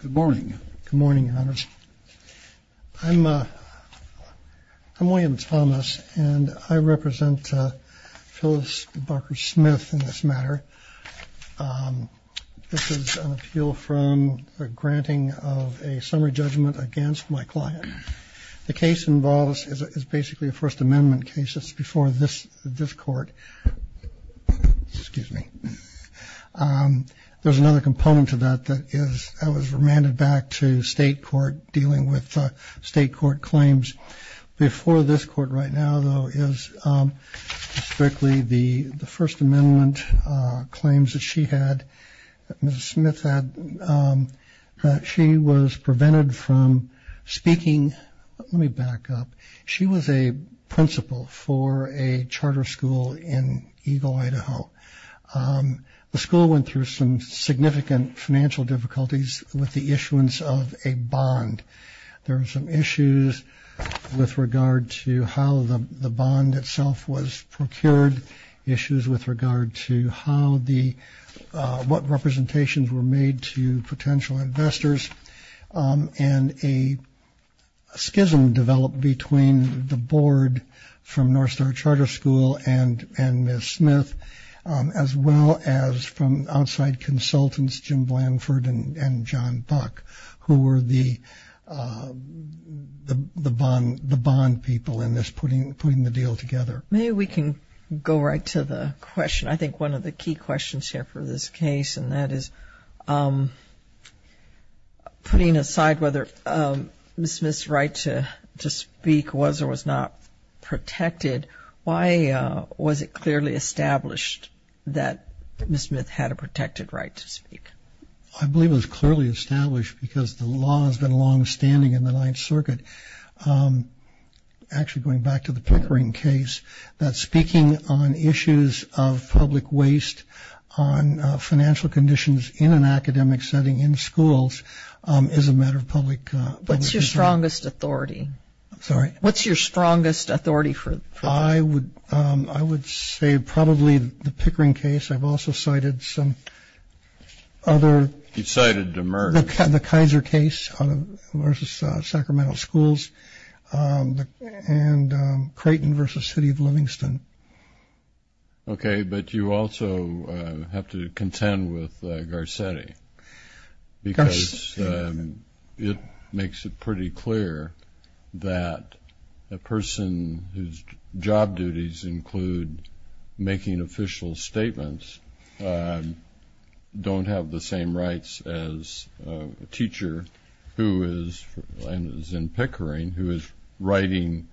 Good morning. Good morning, Your Honors. I'm William Thomas, and I represent Phyllis Barker Smith in this matter. This is an appeal from a granting of a summary judgment against my client. The case involves is basically a First Amendment case. It's before this court. Excuse me. There's another component to that that is that was remanded back to state court dealing with state court claims. Before this court right now, though, is strictly the First Amendment claims that she had. Mr. Smith, she was prevented from speaking. Let me back up. She was a principal for a charter school in Eagle, Idaho. The school went through some significant financial difficulties with the issuance of a bond. There are some issues with regard to how the bond itself was procured. Issues with regard to how the what representations were made to potential investors and a schism developed between the board from North Star Charter School and and Miss Smith, as well as from outside consultants, Jim Blanford and John Buck, who were the bond people in this putting the deal together. Maybe we can go right to the question. I think one of the key questions here for this case, and that is putting aside whether Miss Smith's right to speak was or was not protected. Why was it clearly established that Miss Smith had a protected right to speak? I believe it was clearly established because the law has been long standing in the Ninth Circuit. Actually, going back to the Pickering case, that speaking on issues of public waste on financial conditions in an academic setting in schools is a matter of public. What's your strongest authority? Sorry. What's your strongest authority for? I would I would say probably the Pickering case. I've also cited some other. You've cited Demers. The Kaiser case versus Sacramento schools and Creighton versus City of Livingston. OK, but you also have to contend with Garcetti because it makes it pretty clear that a person whose job duties include making official statements don't have the same rights as a teacher who is and is in Pickering, who is writing,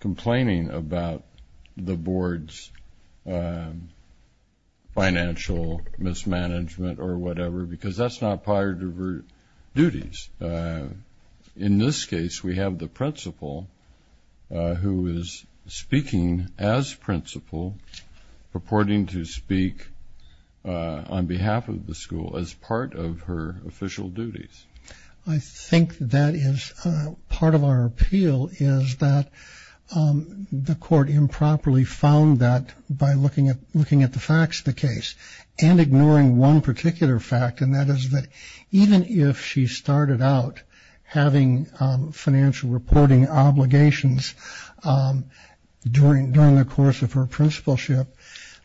complaining about the board's financial mismanagement or whatever, because that's not part of her duties. In this case, we have the principal who is speaking as principal, purporting to speak on behalf of the school as part of her official duties. I think that is part of our appeal is that the court improperly found that by looking at looking at the facts of the case and ignoring one particular fact, and that is that even if she started out having financial reporting obligations during during the course of her principalship,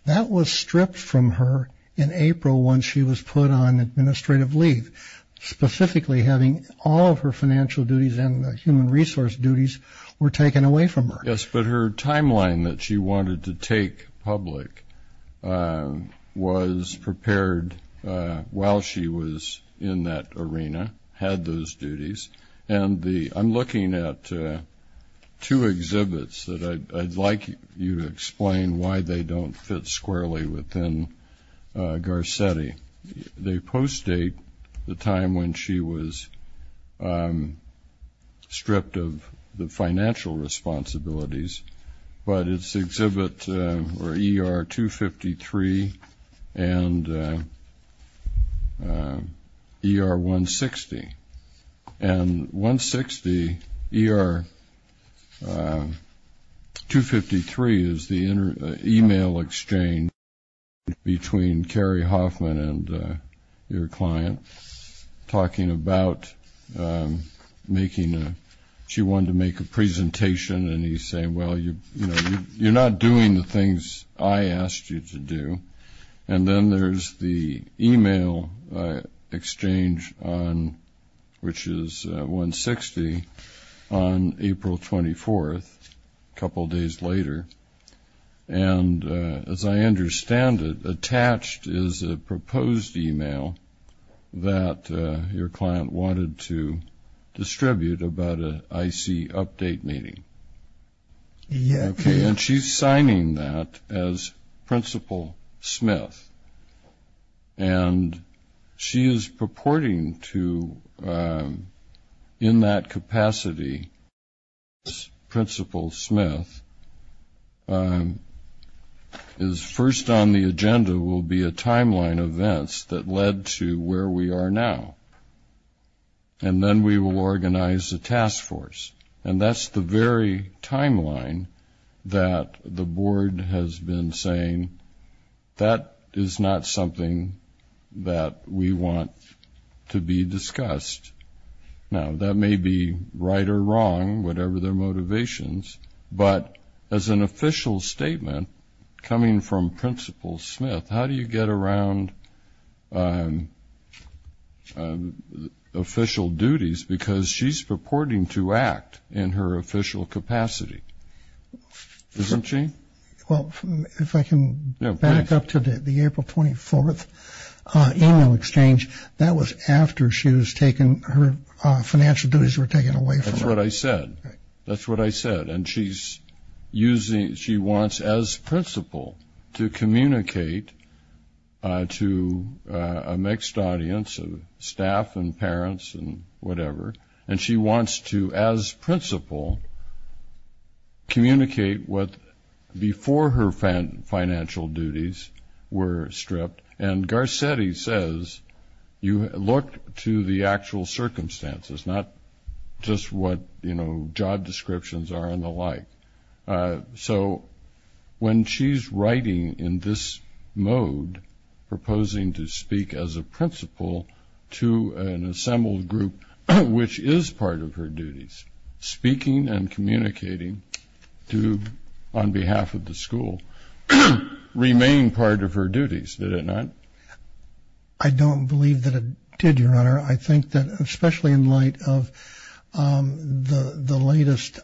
that was stripped from her in April when she was put on administrative leave, specifically having all of her financial duties and human resource duties were taken away from her. Yes, but her timeline that she wanted to take public was prepared while she was in that arena, had those duties. I'm looking at two exhibits that I'd like you to explain why they don't fit squarely within Garcetti. They post-date the time when she was stripped of the financial responsibilities, but it's exhibit ER-253 and ER-160. And ER-160, ER-253 is the email exchange between Carrie Hoffman and your client talking about making a, she wanted to make a presentation and he's saying, well, you're not doing the things I asked you to do. And then there's the email exchange on, which is 160, on April 24th, a couple days later. And as I understand it, attached is a proposed email that your client wanted to distribute about an IC update meeting. Yes. Okay. And she's signing that as Principal Smith. And she is purporting to, in that capacity as Principal Smith, is first on the agenda will be a timeline of events that led to where we are now. And then we will organize a task force. And that's the very timeline that the board has been saying that is not something that we want to be discussed. Now, that may be right or wrong, whatever their motivations. But as an official statement coming from Principal Smith, how do you get around official duties? Because she's purporting to act in her official capacity, isn't she? Well, if I can back up to the April 24th email exchange, that was after she was taken, her financial duties were taken away from her. That's what I said. That's what I said. And she wants, as principal, to communicate to a mixed audience of staff and parents and whatever. And she wants to, as principal, communicate what before her financial duties were stripped. And Garcetti says you look to the actual circumstances, not just what, you know, job descriptions are and the like. So when she's writing in this mode proposing to speak as a principal to an assembled group, which is part of her duties, speaking and communicating on behalf of the school, remained part of her duties, did it not? I don't believe that it did, Your Honor. I think that especially in light of the latest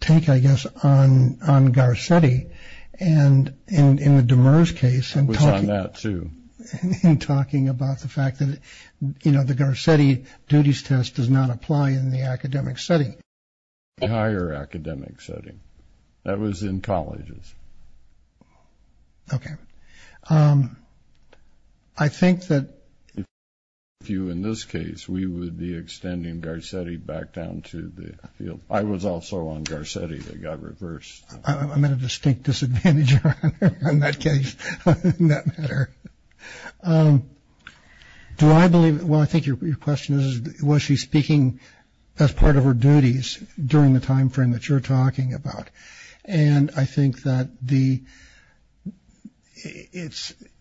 take, I guess, on Garcetti and in the Demers case. I was on that too. In talking about the fact that, you know, the Garcetti duties test does not apply in the academic setting. It does apply in a higher academic setting. That was in colleges. Okay. I think that if I were you in this case, we would be extending Garcetti back down to the field. I was also on Garcetti. They got reversed. I'm at a distinct disadvantage, Your Honor, in that case, in that matter. Do I believe, well, I think your question is, was she speaking as part of her duties during the timeframe that you're talking about? And I think that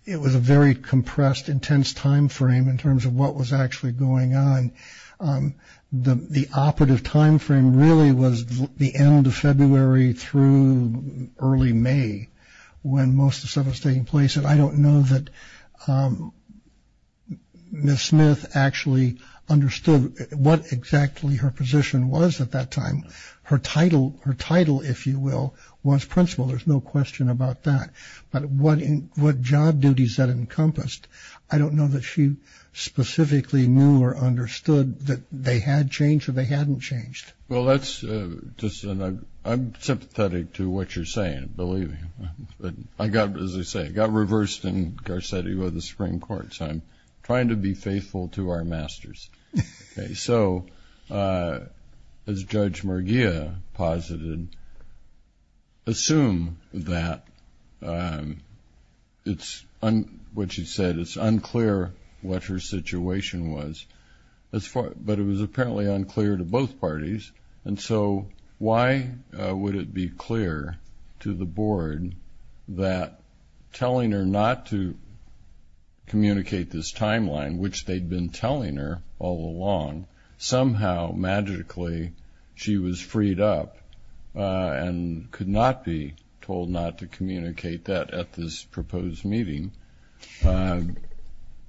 it was a very compressed, intense timeframe in terms of what was actually going on. The operative timeframe really was the end of February through early May when most of the stuff was taking place. And I don't know that Ms. Smith actually understood what exactly her position was at that time. Her title, if you will, was principal. There's no question about that. But what job duties that encompassed, I don't know that she specifically knew or understood that they had changed or they hadn't changed. Well, that's just an – I'm sympathetic to what you're saying, I believe you. I got, as I say, I got reversed in Garcetti with the Supreme Court, so I'm trying to be faithful to our masters. So as Judge Merguia posited, assume that it's – what she said, it's unclear what her situation was. But it was apparently unclear to both parties. And so why would it be clear to the board that telling her not to communicate this timeline, which they'd been telling her all along, somehow magically she was freed up and could not be told not to communicate that at this proposed meeting,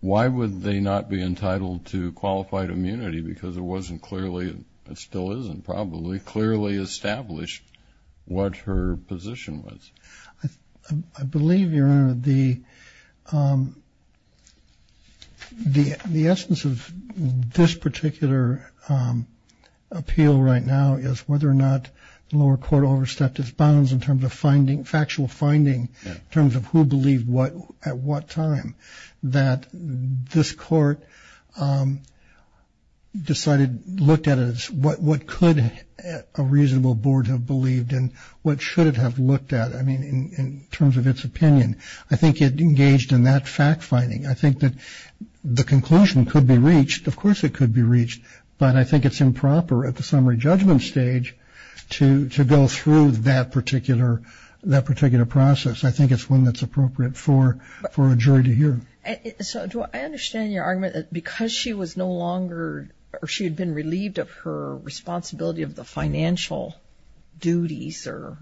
why would they not be entitled to qualified immunity because it wasn't clearly, it still isn't probably, clearly established what her position was? I believe, Your Honor, the essence of this particular appeal right now is whether or not the lower court overstepped its bounds in terms of finding, factual finding, in terms of who believed what at what time, that this court decided, looked at it as what could a reasonable board have believed and what should it have looked at, I mean, in terms of its opinion. I think it engaged in that fact finding. I think that the conclusion could be reached, of course it could be reached, but I think it's improper at the summary judgment stage to go through that particular process. I think it's one that's appropriate for a jury to hear. So do I understand your argument that because she was no longer, or she had been relieved of her responsibility of the financial duties or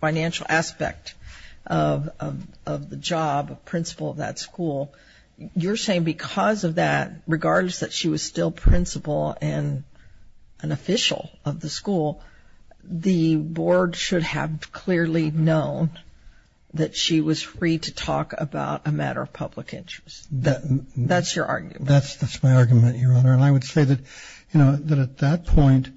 financial aspect of the job of principal of that school, you're saying because of that, regardless that she was still principal and an official of the school, the board should have clearly known that she was free to talk about a matter of public interest. That's your argument. That's my argument, Your Honor, and I would say that, you know, that at that point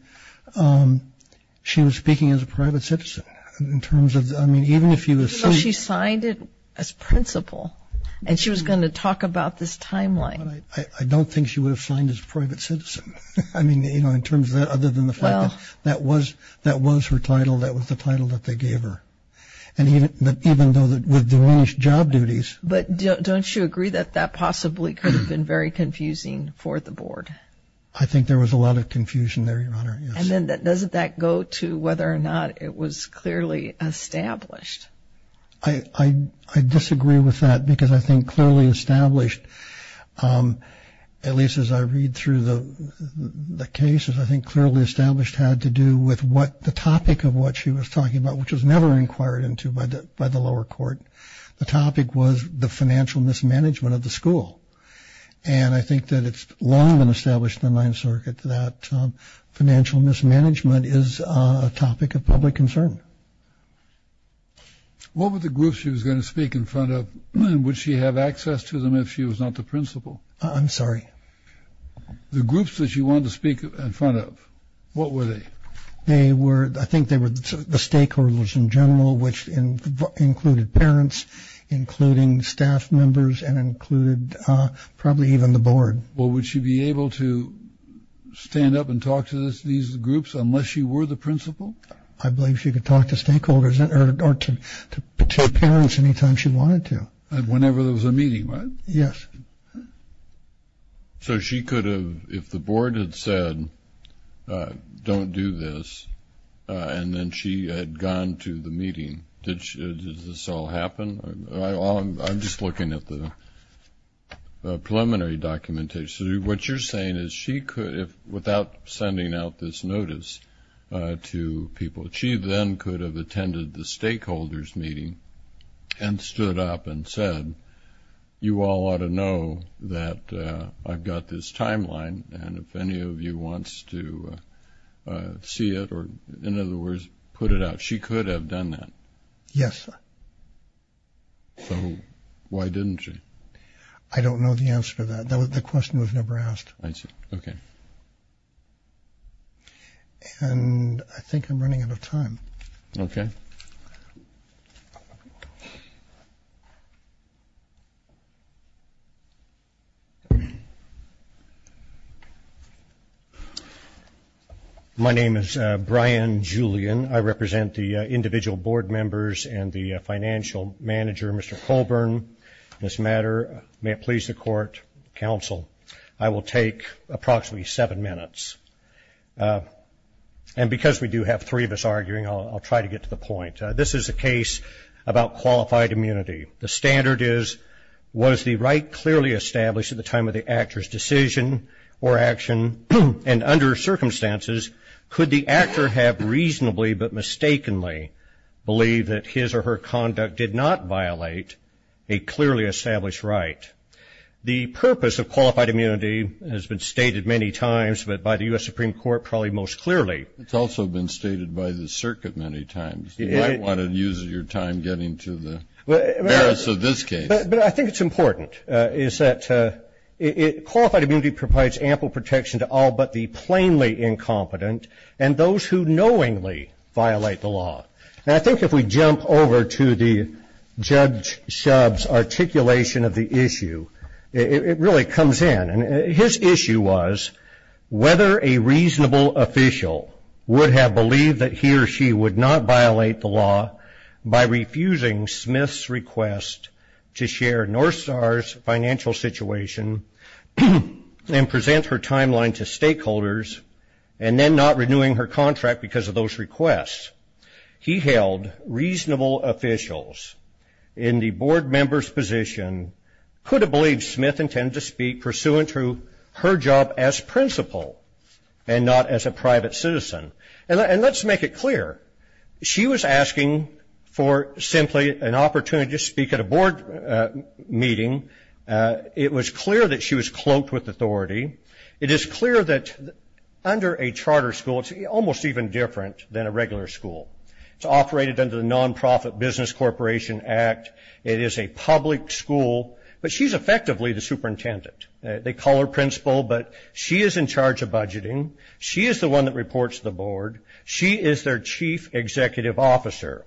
she was speaking as a private citizen in terms of, I mean, even if you assume. Even though she signed it as principal and she was going to talk about this timeline. I don't think she would have signed as private citizen. I mean, you know, in terms of that, other than the fact that that was her title, that was the title that they gave her. And even though with the English job duties. But don't you agree that that possibly could have been very confusing for the board? I think there was a lot of confusion there, Your Honor, yes. And then doesn't that go to whether or not it was clearly established? I disagree with that because I think clearly established, at least as I read through the cases, I think clearly established had to do with what the topic of what she was talking about, which was never inquired into by the lower court. The topic was the financial mismanagement of the school. And I think that it's long been established in the Ninth Circuit that financial mismanagement is a topic of public concern. What were the groups she was going to speak in front of? Would she have access to them if she was not the principal? I'm sorry. The groups that she wanted to speak in front of, what were they? They were, I think they were the stakeholders in general, which included parents, including staff members, and included probably even the board. Well, would she be able to stand up and talk to these groups unless she were the principal? I believe she could talk to stakeholders or to parents any time she wanted to. Whenever there was a meeting, right? Yes. So she could have, if the board had said, don't do this, and then she had gone to the meeting, does this all happen? I'm just looking at the preliminary documentation. What you're saying is she could, without sending out this notice to people, she then could have attended the stakeholders meeting and stood up and said, you all ought to know that I've got this timeline, and if any of you wants to see it or, in other words, put it out. She could have done that. Yes. So why didn't she? I don't know the answer to that. The question was never asked. I see. Okay. And I think I'm running out of time. Okay. My name is Brian Julian. I represent the individual board members and the financial manager, Mr. Colburn, in this matter. May it please the court, counsel, I will take approximately seven minutes. And because we do have three of us arguing, I'll try to get to the point. This is a case about qualified immunity. The standard is, was the right clearly established at the time of the actor's decision or action, and under circumstances, could the actor have reasonably but mistakenly believed that his or her conduct did not violate a clearly established right? The purpose of qualified immunity has been stated many times, but by the U.S. Supreme Court probably most clearly. It's also been stated by the circuit many times. You might want to use your time getting to the merits of this case. But I think it's important is that qualified immunity provides ample protection to all but the plainly incompetent and those who knowingly violate the law. And I think if we jump over to the Judge Shub's articulation of the issue, it really comes in. And his issue was whether a reasonable official would have believed that he or she would not violate the law by refusing Smith's request to share North Star's financial situation and present her timeline to stakeholders and then not renewing her contract because of those requests. He held reasonable officials in the board member's position could have believed Smith intended to speak pursuant to her job as principal and not as a private citizen. And let's make it clear. She was asking for simply an opportunity to speak at a board meeting. It was clear that she was cloaked with authority. It is clear that under a charter school, it's almost even different than a regular school. It's operated under the Nonprofit Business Corporation Act. It is a public school, but she's effectively the superintendent. They call her principal, but she is in charge of budgeting. She is the one that reports to the board. She is their chief executive officer.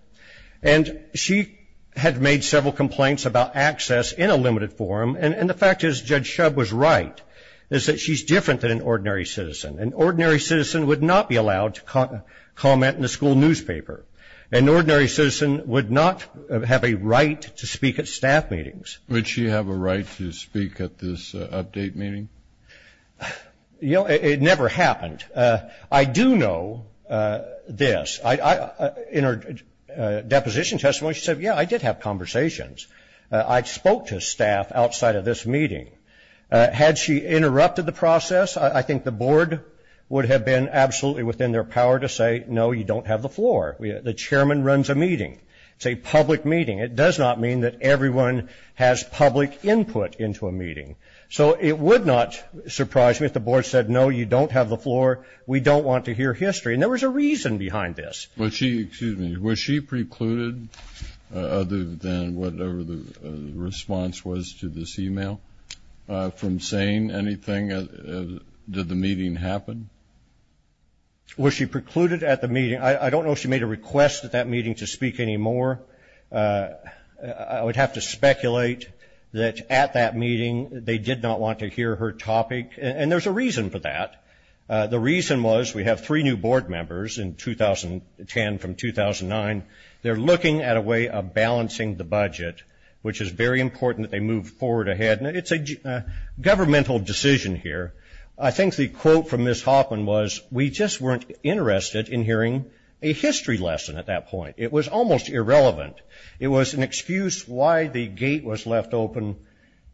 And she had made several complaints about access in a limited forum, and the fact is Judge Shub was right is that she's different than an ordinary citizen. An ordinary citizen would not be allowed to comment in a school newspaper. An ordinary citizen would not have a right to speak at staff meetings. Would she have a right to speak at this update meeting? You know, it never happened. I do know this. In her deposition testimony, she said, yeah, I did have conversations. I spoke to staff outside of this meeting. Had she interrupted the process, I think the board would have been absolutely within their power to say, no, you don't have the floor. The chairman runs a meeting. It's a public meeting. It does not mean that everyone has public input into a meeting. So it would not surprise me if the board said, no, you don't have the floor. We don't want to hear history. And there was a reason behind this. Was she precluded, other than whatever the response was to this e-mail, from saying anything? Did the meeting happen? Was she precluded at the meeting? I don't know if she made a request at that meeting to speak anymore. I would have to speculate that at that meeting they did not want to hear her topic. And there's a reason for that. The reason was we have three new board members in 2010 from 2009. They're looking at a way of balancing the budget, which is very important that they move forward ahead. And it's a governmental decision here. I think the quote from Ms. Hoffman was, we just weren't interested in hearing a history lesson at that point. It was almost irrelevant. It was an excuse why the gate was left open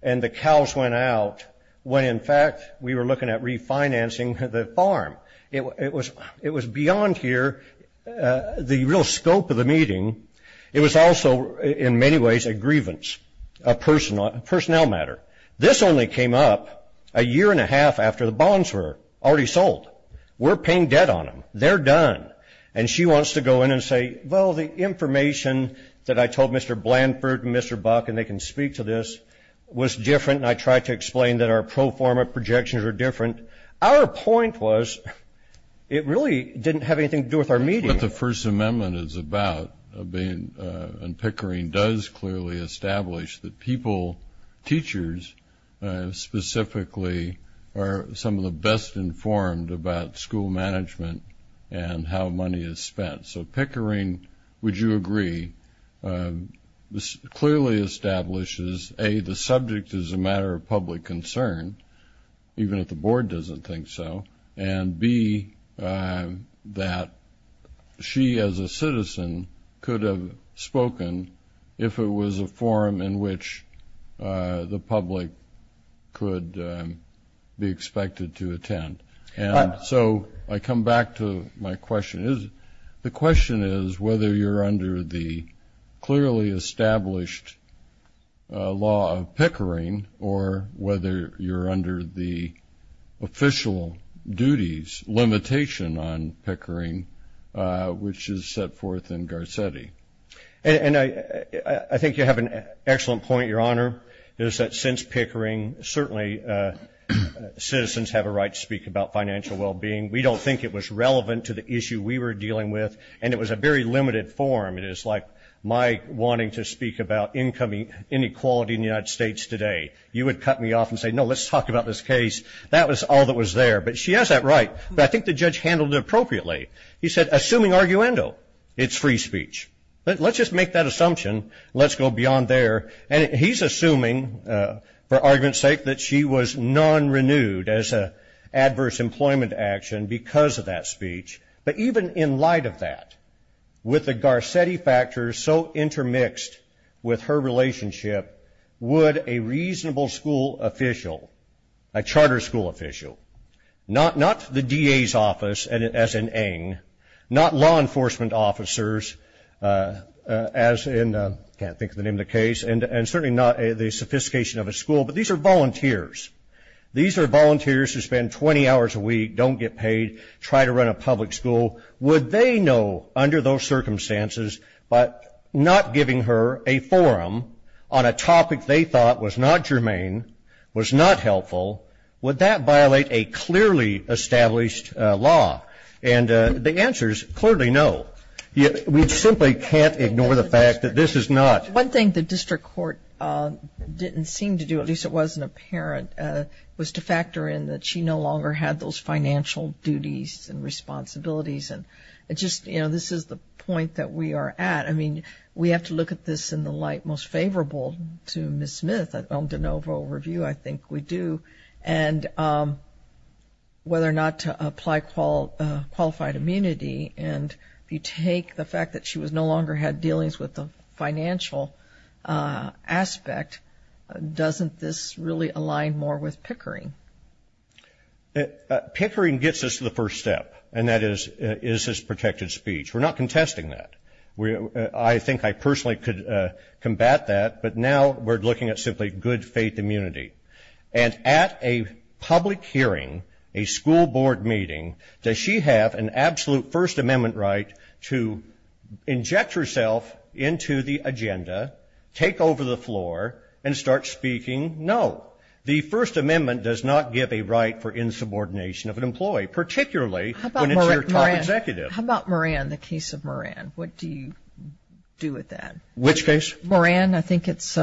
and the cows went out, when, in fact, we were looking at refinancing the farm. It was beyond here, the real scope of the meeting. It was also, in many ways, a grievance, a personnel matter. This only came up a year and a half after the bonds were already sold. We're paying debt on them. They're done. And she wants to go in and say, well, the information that I told Mr. Blanford and Mr. Buck, and they can speak to this, was different, and I tried to explain that our pro forma projections were different. Our point was it really didn't have anything to do with our meeting. What the First Amendment is about, and Pickering does clearly establish, that people, teachers specifically, are some of the best informed about school management and how money is spent. So Pickering, would you agree, clearly establishes, A, the subject is a matter of public concern, even if the board doesn't think so, and B, that she as a citizen could have spoken if it was a forum in which the public could be expected to attend? And so I come back to my question. The question is whether you're under the clearly established law of Pickering or whether you're under the official duties limitation on Pickering, which is set forth in Garcetti. And I think you have an excellent point, Your Honor, is that since Pickering certainly citizens have a right to speak about financial well-being. We don't think it was relevant to the issue we were dealing with, and it was a very limited forum. It is like my wanting to speak about income inequality in the United States today. You would cut me off and say, no, let's talk about this case. That was all that was there. But she has that right. But I think the judge handled it appropriately. He said, assuming arguendo, it's free speech. Let's just make that assumption. Let's go beyond there. And he's assuming, for argument's sake, that she was non-renewed as an adverse employment action because of that speech. But even in light of that, with the Garcetti factors so intermixed with her relationship, would a reasonable school official, a charter school official, not the DA's office, as in Eng, not law enforcement officers, as in I can't think of the name of the case, and certainly not the sophistication of a school, but these are volunteers. These are volunteers who spend 20 hours a week, don't get paid, try to run a public school. Would they know, under those circumstances, but not giving her a forum on a topic they thought was not germane, was not helpful, would that violate a clearly established law? And the answer is clearly no. We simply can't ignore the fact that this is not. One thing the district court didn't seem to do, at least it wasn't apparent, was to factor in that she no longer had those financial duties and responsibilities. And just, you know, this is the point that we are at. I mean, we have to look at this in the light most favorable to Ms. Smith. On de novo review, I think we do. And whether or not to apply qualified immunity, and if you take the fact that she no longer had dealings with the financial aspect, doesn't this really align more with Pickering? Pickering gets us to the first step, and that is, is this protected speech? We're not contesting that. I think I personally could combat that, but now we're looking at simply good faith immunity. And at a public hearing, a school board meeting, does she have an absolute First Amendment right to inject herself into the agenda, take over the floor, and start speaking? No. The First Amendment does not give a right for insubordination of an employee, particularly when it's your top executive. How about Moran, the case of Moran? What do you do with that? Which case? Moran, I think it's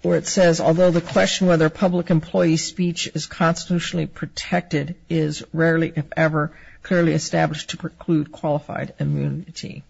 where it says, although the question whether public employee speech is constitutionally protected is rarely, if ever, clearly established to preclude qualified immunity.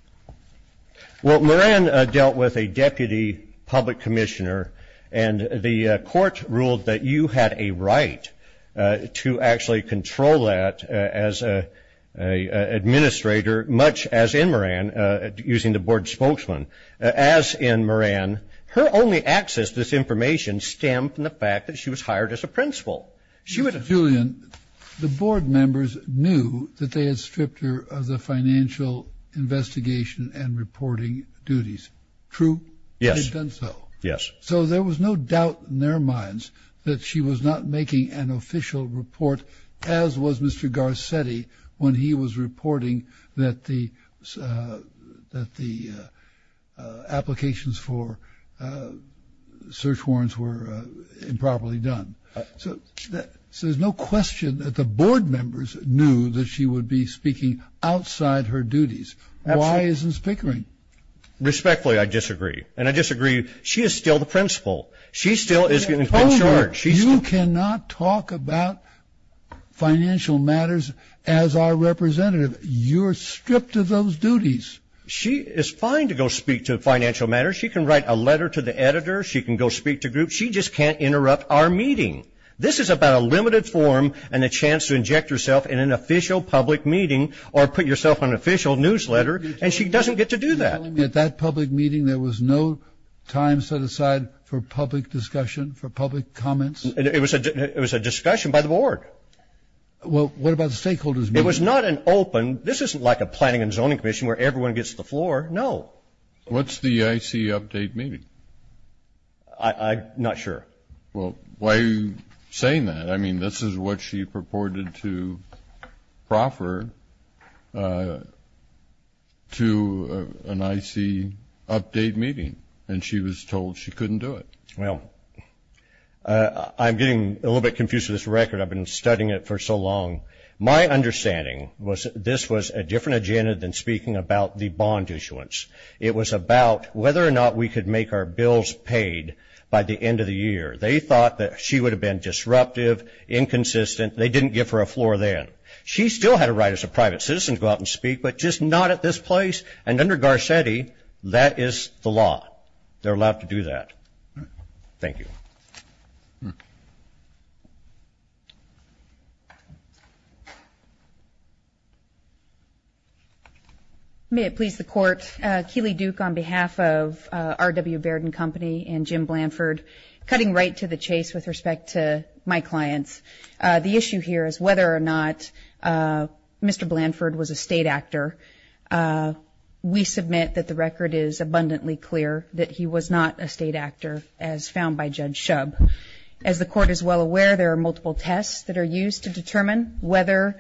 Well, Moran dealt with a deputy public commissioner, and the court ruled that you had a right to actually control that as an administrator, much as in Moran, using the board spokesman. As in Moran, her only access to this information stemmed from the fact that she was hired as a principal. Julian, the board members knew that they had stripped her of the financial investigation and reporting duties. True? Yes. They had done so? Yes. So there was no doubt in their minds that she was not making an official report, as was Mr. Garcetti when he was reporting that the applications for search warrants were improperly done. So there's no question that the board members knew that she would be speaking outside her duties. Why isn't Spickering? Respectfully, I disagree. And I disagree. She is still the principal. She still is going to be in charge. You cannot talk about financial matters as our representative. You're stripped of those duties. She is fine to go speak to financial matters. She can write a letter to the editor. She can go speak to groups. She just can't interrupt our meeting. This is about a limited forum and a chance to inject yourself in an official public meeting or put yourself on an official newsletter, and she doesn't get to do that. At that public meeting, there was no time set aside for public discussion, for public comments? It was a discussion by the board. Well, what about the stakeholders meeting? It was not an open. This isn't like a planning and zoning commission where everyone gets to the floor. No. What's the I.C. update meeting? I'm not sure. Well, why are you saying that? I mean, this is what she purported to proffer to an I.C. update meeting, and she was told she couldn't do it. Well, I'm getting a little bit confused with this record. I've been studying it for so long. My understanding was this was a different agenda than speaking about the bond issuance. It was about whether or not we could make our bills paid by the end of the year. They thought that she would have been disruptive, inconsistent. They didn't give her a floor then. She still had a right as a private citizen to go out and speak, but just not at this place. And under Garcetti, that is the law. They're allowed to do that. Thank you. Okay. May it please the Court, Keeley Duke on behalf of R.W. Baird & Company and Jim Blanford, cutting right to the chase with respect to my clients. The issue here is whether or not Mr. Blanford was a state actor. We submit that the record is abundantly clear that he was not a state actor as found by Judge Shub. As the Court is well aware, there are multiple tests that are used to determine whether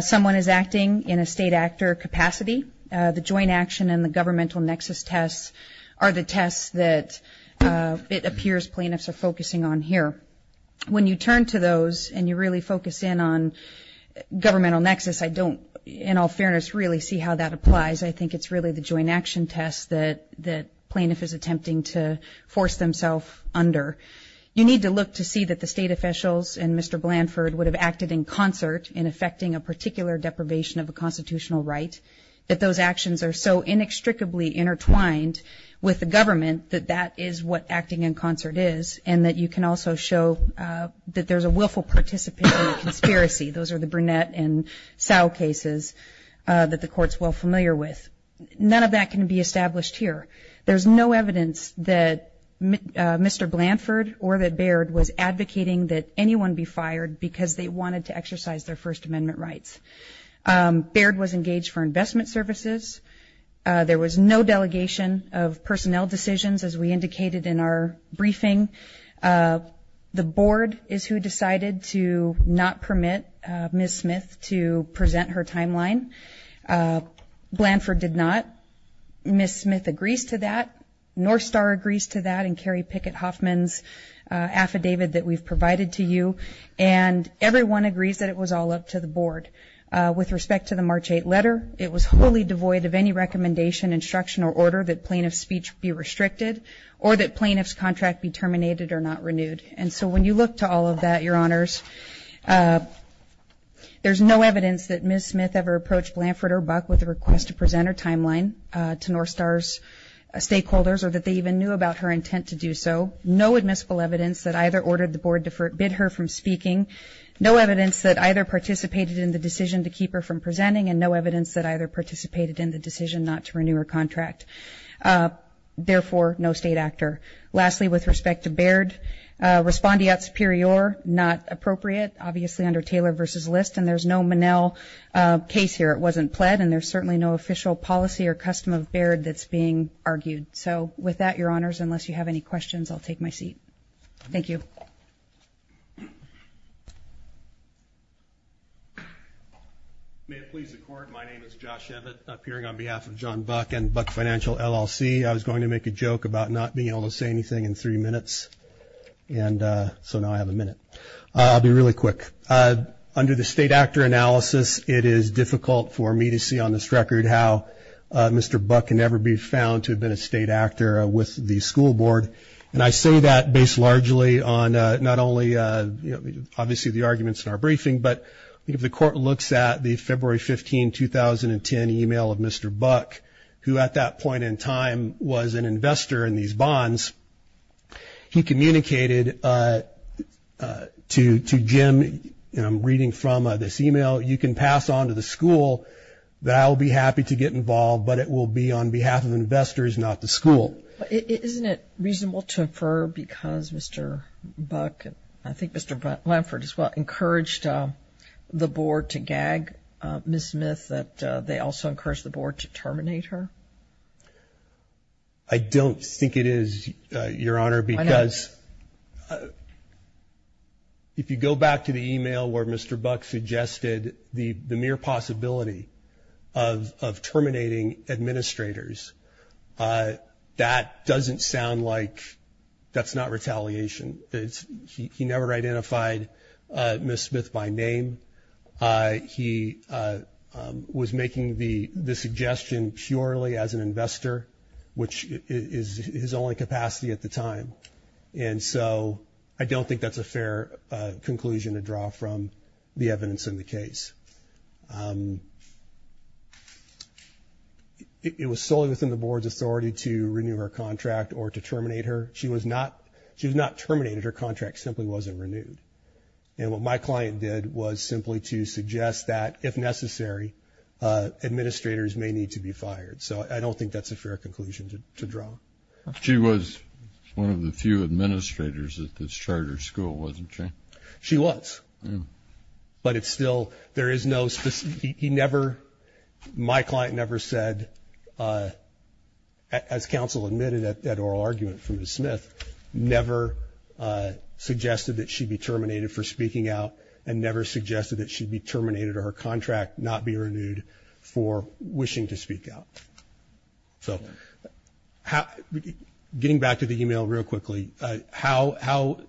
someone is acting in a state actor capacity. The joint action and the governmental nexus tests are the tests that it appears plaintiffs are focusing on here. When you turn to those and you really focus in on governmental nexus, I don't, in all fairness, really see how that applies. I think it's really the joint action test that plaintiff is attempting to force themselves under. You need to look to see that the state officials and Mr. Blanford would have acted in concert in effecting a particular deprivation of a constitutional right, that those actions are so inextricably intertwined with the government that that is what acting in concert is, and that you can also show that there's a willful participant in the conspiracy. Those are the Burnett and Sow cases that the Court's well familiar with. None of that can be established here. There's no evidence that Mr. Blanford or that Baird was advocating that anyone be fired because they wanted to exercise their First Amendment rights. Baird was engaged for investment services. There was no delegation of personnel decisions, as we indicated in our briefing. The Board is who decided to not permit Ms. Smith to present her timeline. Blanford did not. Ms. Smith agrees to that. North Star agrees to that and Carrie Pickett-Hoffman's affidavit that we've provided to you. And everyone agrees that it was all up to the Board. With respect to the March 8 letter, it was wholly devoid of any recommendation, instruction, or order that plaintiff's speech be restricted or that plaintiff's contract be terminated or not renewed. And so when you look to all of that, Your Honors, there's no evidence that Ms. Smith ever approached Blanford or Buck with a request to present her timeline to North Star's stakeholders or that they even knew about her intent to do so. No admissible evidence that either ordered the Board to forbid her from speaking, no evidence that either participated in the decision to keep her from presenting, and no evidence that either participated in the decision not to renew her contract. Therefore, no state actor. Lastly, with respect to Baird, respondeat superior, not appropriate, obviously under Taylor v. List, and there's no Monell case here. It wasn't pled, and there's certainly no official policy or custom of Baird that's being argued. So with that, Your Honors, unless you have any questions, I'll take my seat. Thank you. May it please the Court. My name is Josh Emmett, appearing on behalf of John Buck and Buck Financial LLC. I was going to make a joke about not being able to say anything in three minutes, and so now I have a minute. I'll be really quick. Under the state actor analysis, it is difficult for me to see on this record how Mr. Buck can never be found to have been a state actor with the school board. And I say that based largely on not only obviously the arguments in our briefing, but if the Court looks at the February 15, 2010 email of Mr. Buck, who at that point in time was an investor in these bonds, he communicated to Jim reading from this email, you can pass on to the school that I will be happy to get involved, but it will be on behalf of investors, not the school. Isn't it reasonable to infer because Mr. Buck, and I think Mr. Lamford as well, encouraged the board to gag Ms. Smith, that they also encouraged the board to terminate her? I don't think it is, Your Honor, because if you go back to the email where Mr. Buck suggested the mere possibility of terminating administrators, that doesn't sound like that's not retaliation. He never identified Ms. Smith by name. He was making the suggestion purely as an investor, which is his only capacity at the time. And so I don't think that's a fair conclusion to draw from the evidence in the case. It was solely within the board's authority to renew her contract or to terminate her. She was not terminated. Her contract simply wasn't renewed. And what my client did was simply to suggest that if necessary, administrators may need to be fired. So I don't think that's a fair conclusion to draw. She was one of the few administrators at this charter school, wasn't she? She was. But it's still, there is no specific, he never, my client never said, as counsel admitted at oral argument from Ms. Smith, never suggested that she be terminated for speaking out, and never suggested that she be terminated or her contract not be renewed for wishing to speak out. So getting back to the email real quickly, how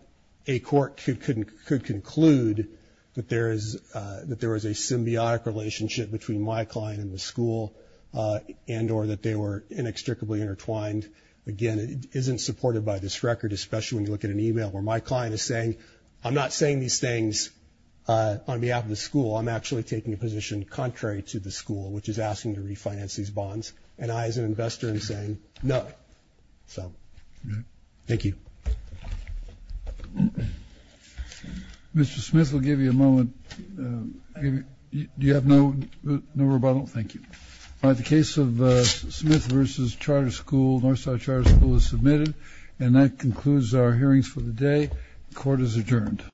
a court could conclude that there is a symbiotic relationship between my client and the school and or that they were inextricably intertwined. Again, it isn't supported by this record, especially when you look at an email where my client is saying, I'm not saying these things on behalf of the school. I'm actually taking a position contrary to the school, which is asking to refinance these bonds. And I, as an investor, am saying no. So thank you. Mr. Smith will give you a moment. Do you have no rebuttal? Thank you. All right, the case of Smith versus Charter School, Northside Charter School is submitted. And that concludes our hearings for the day. Court is adjourned.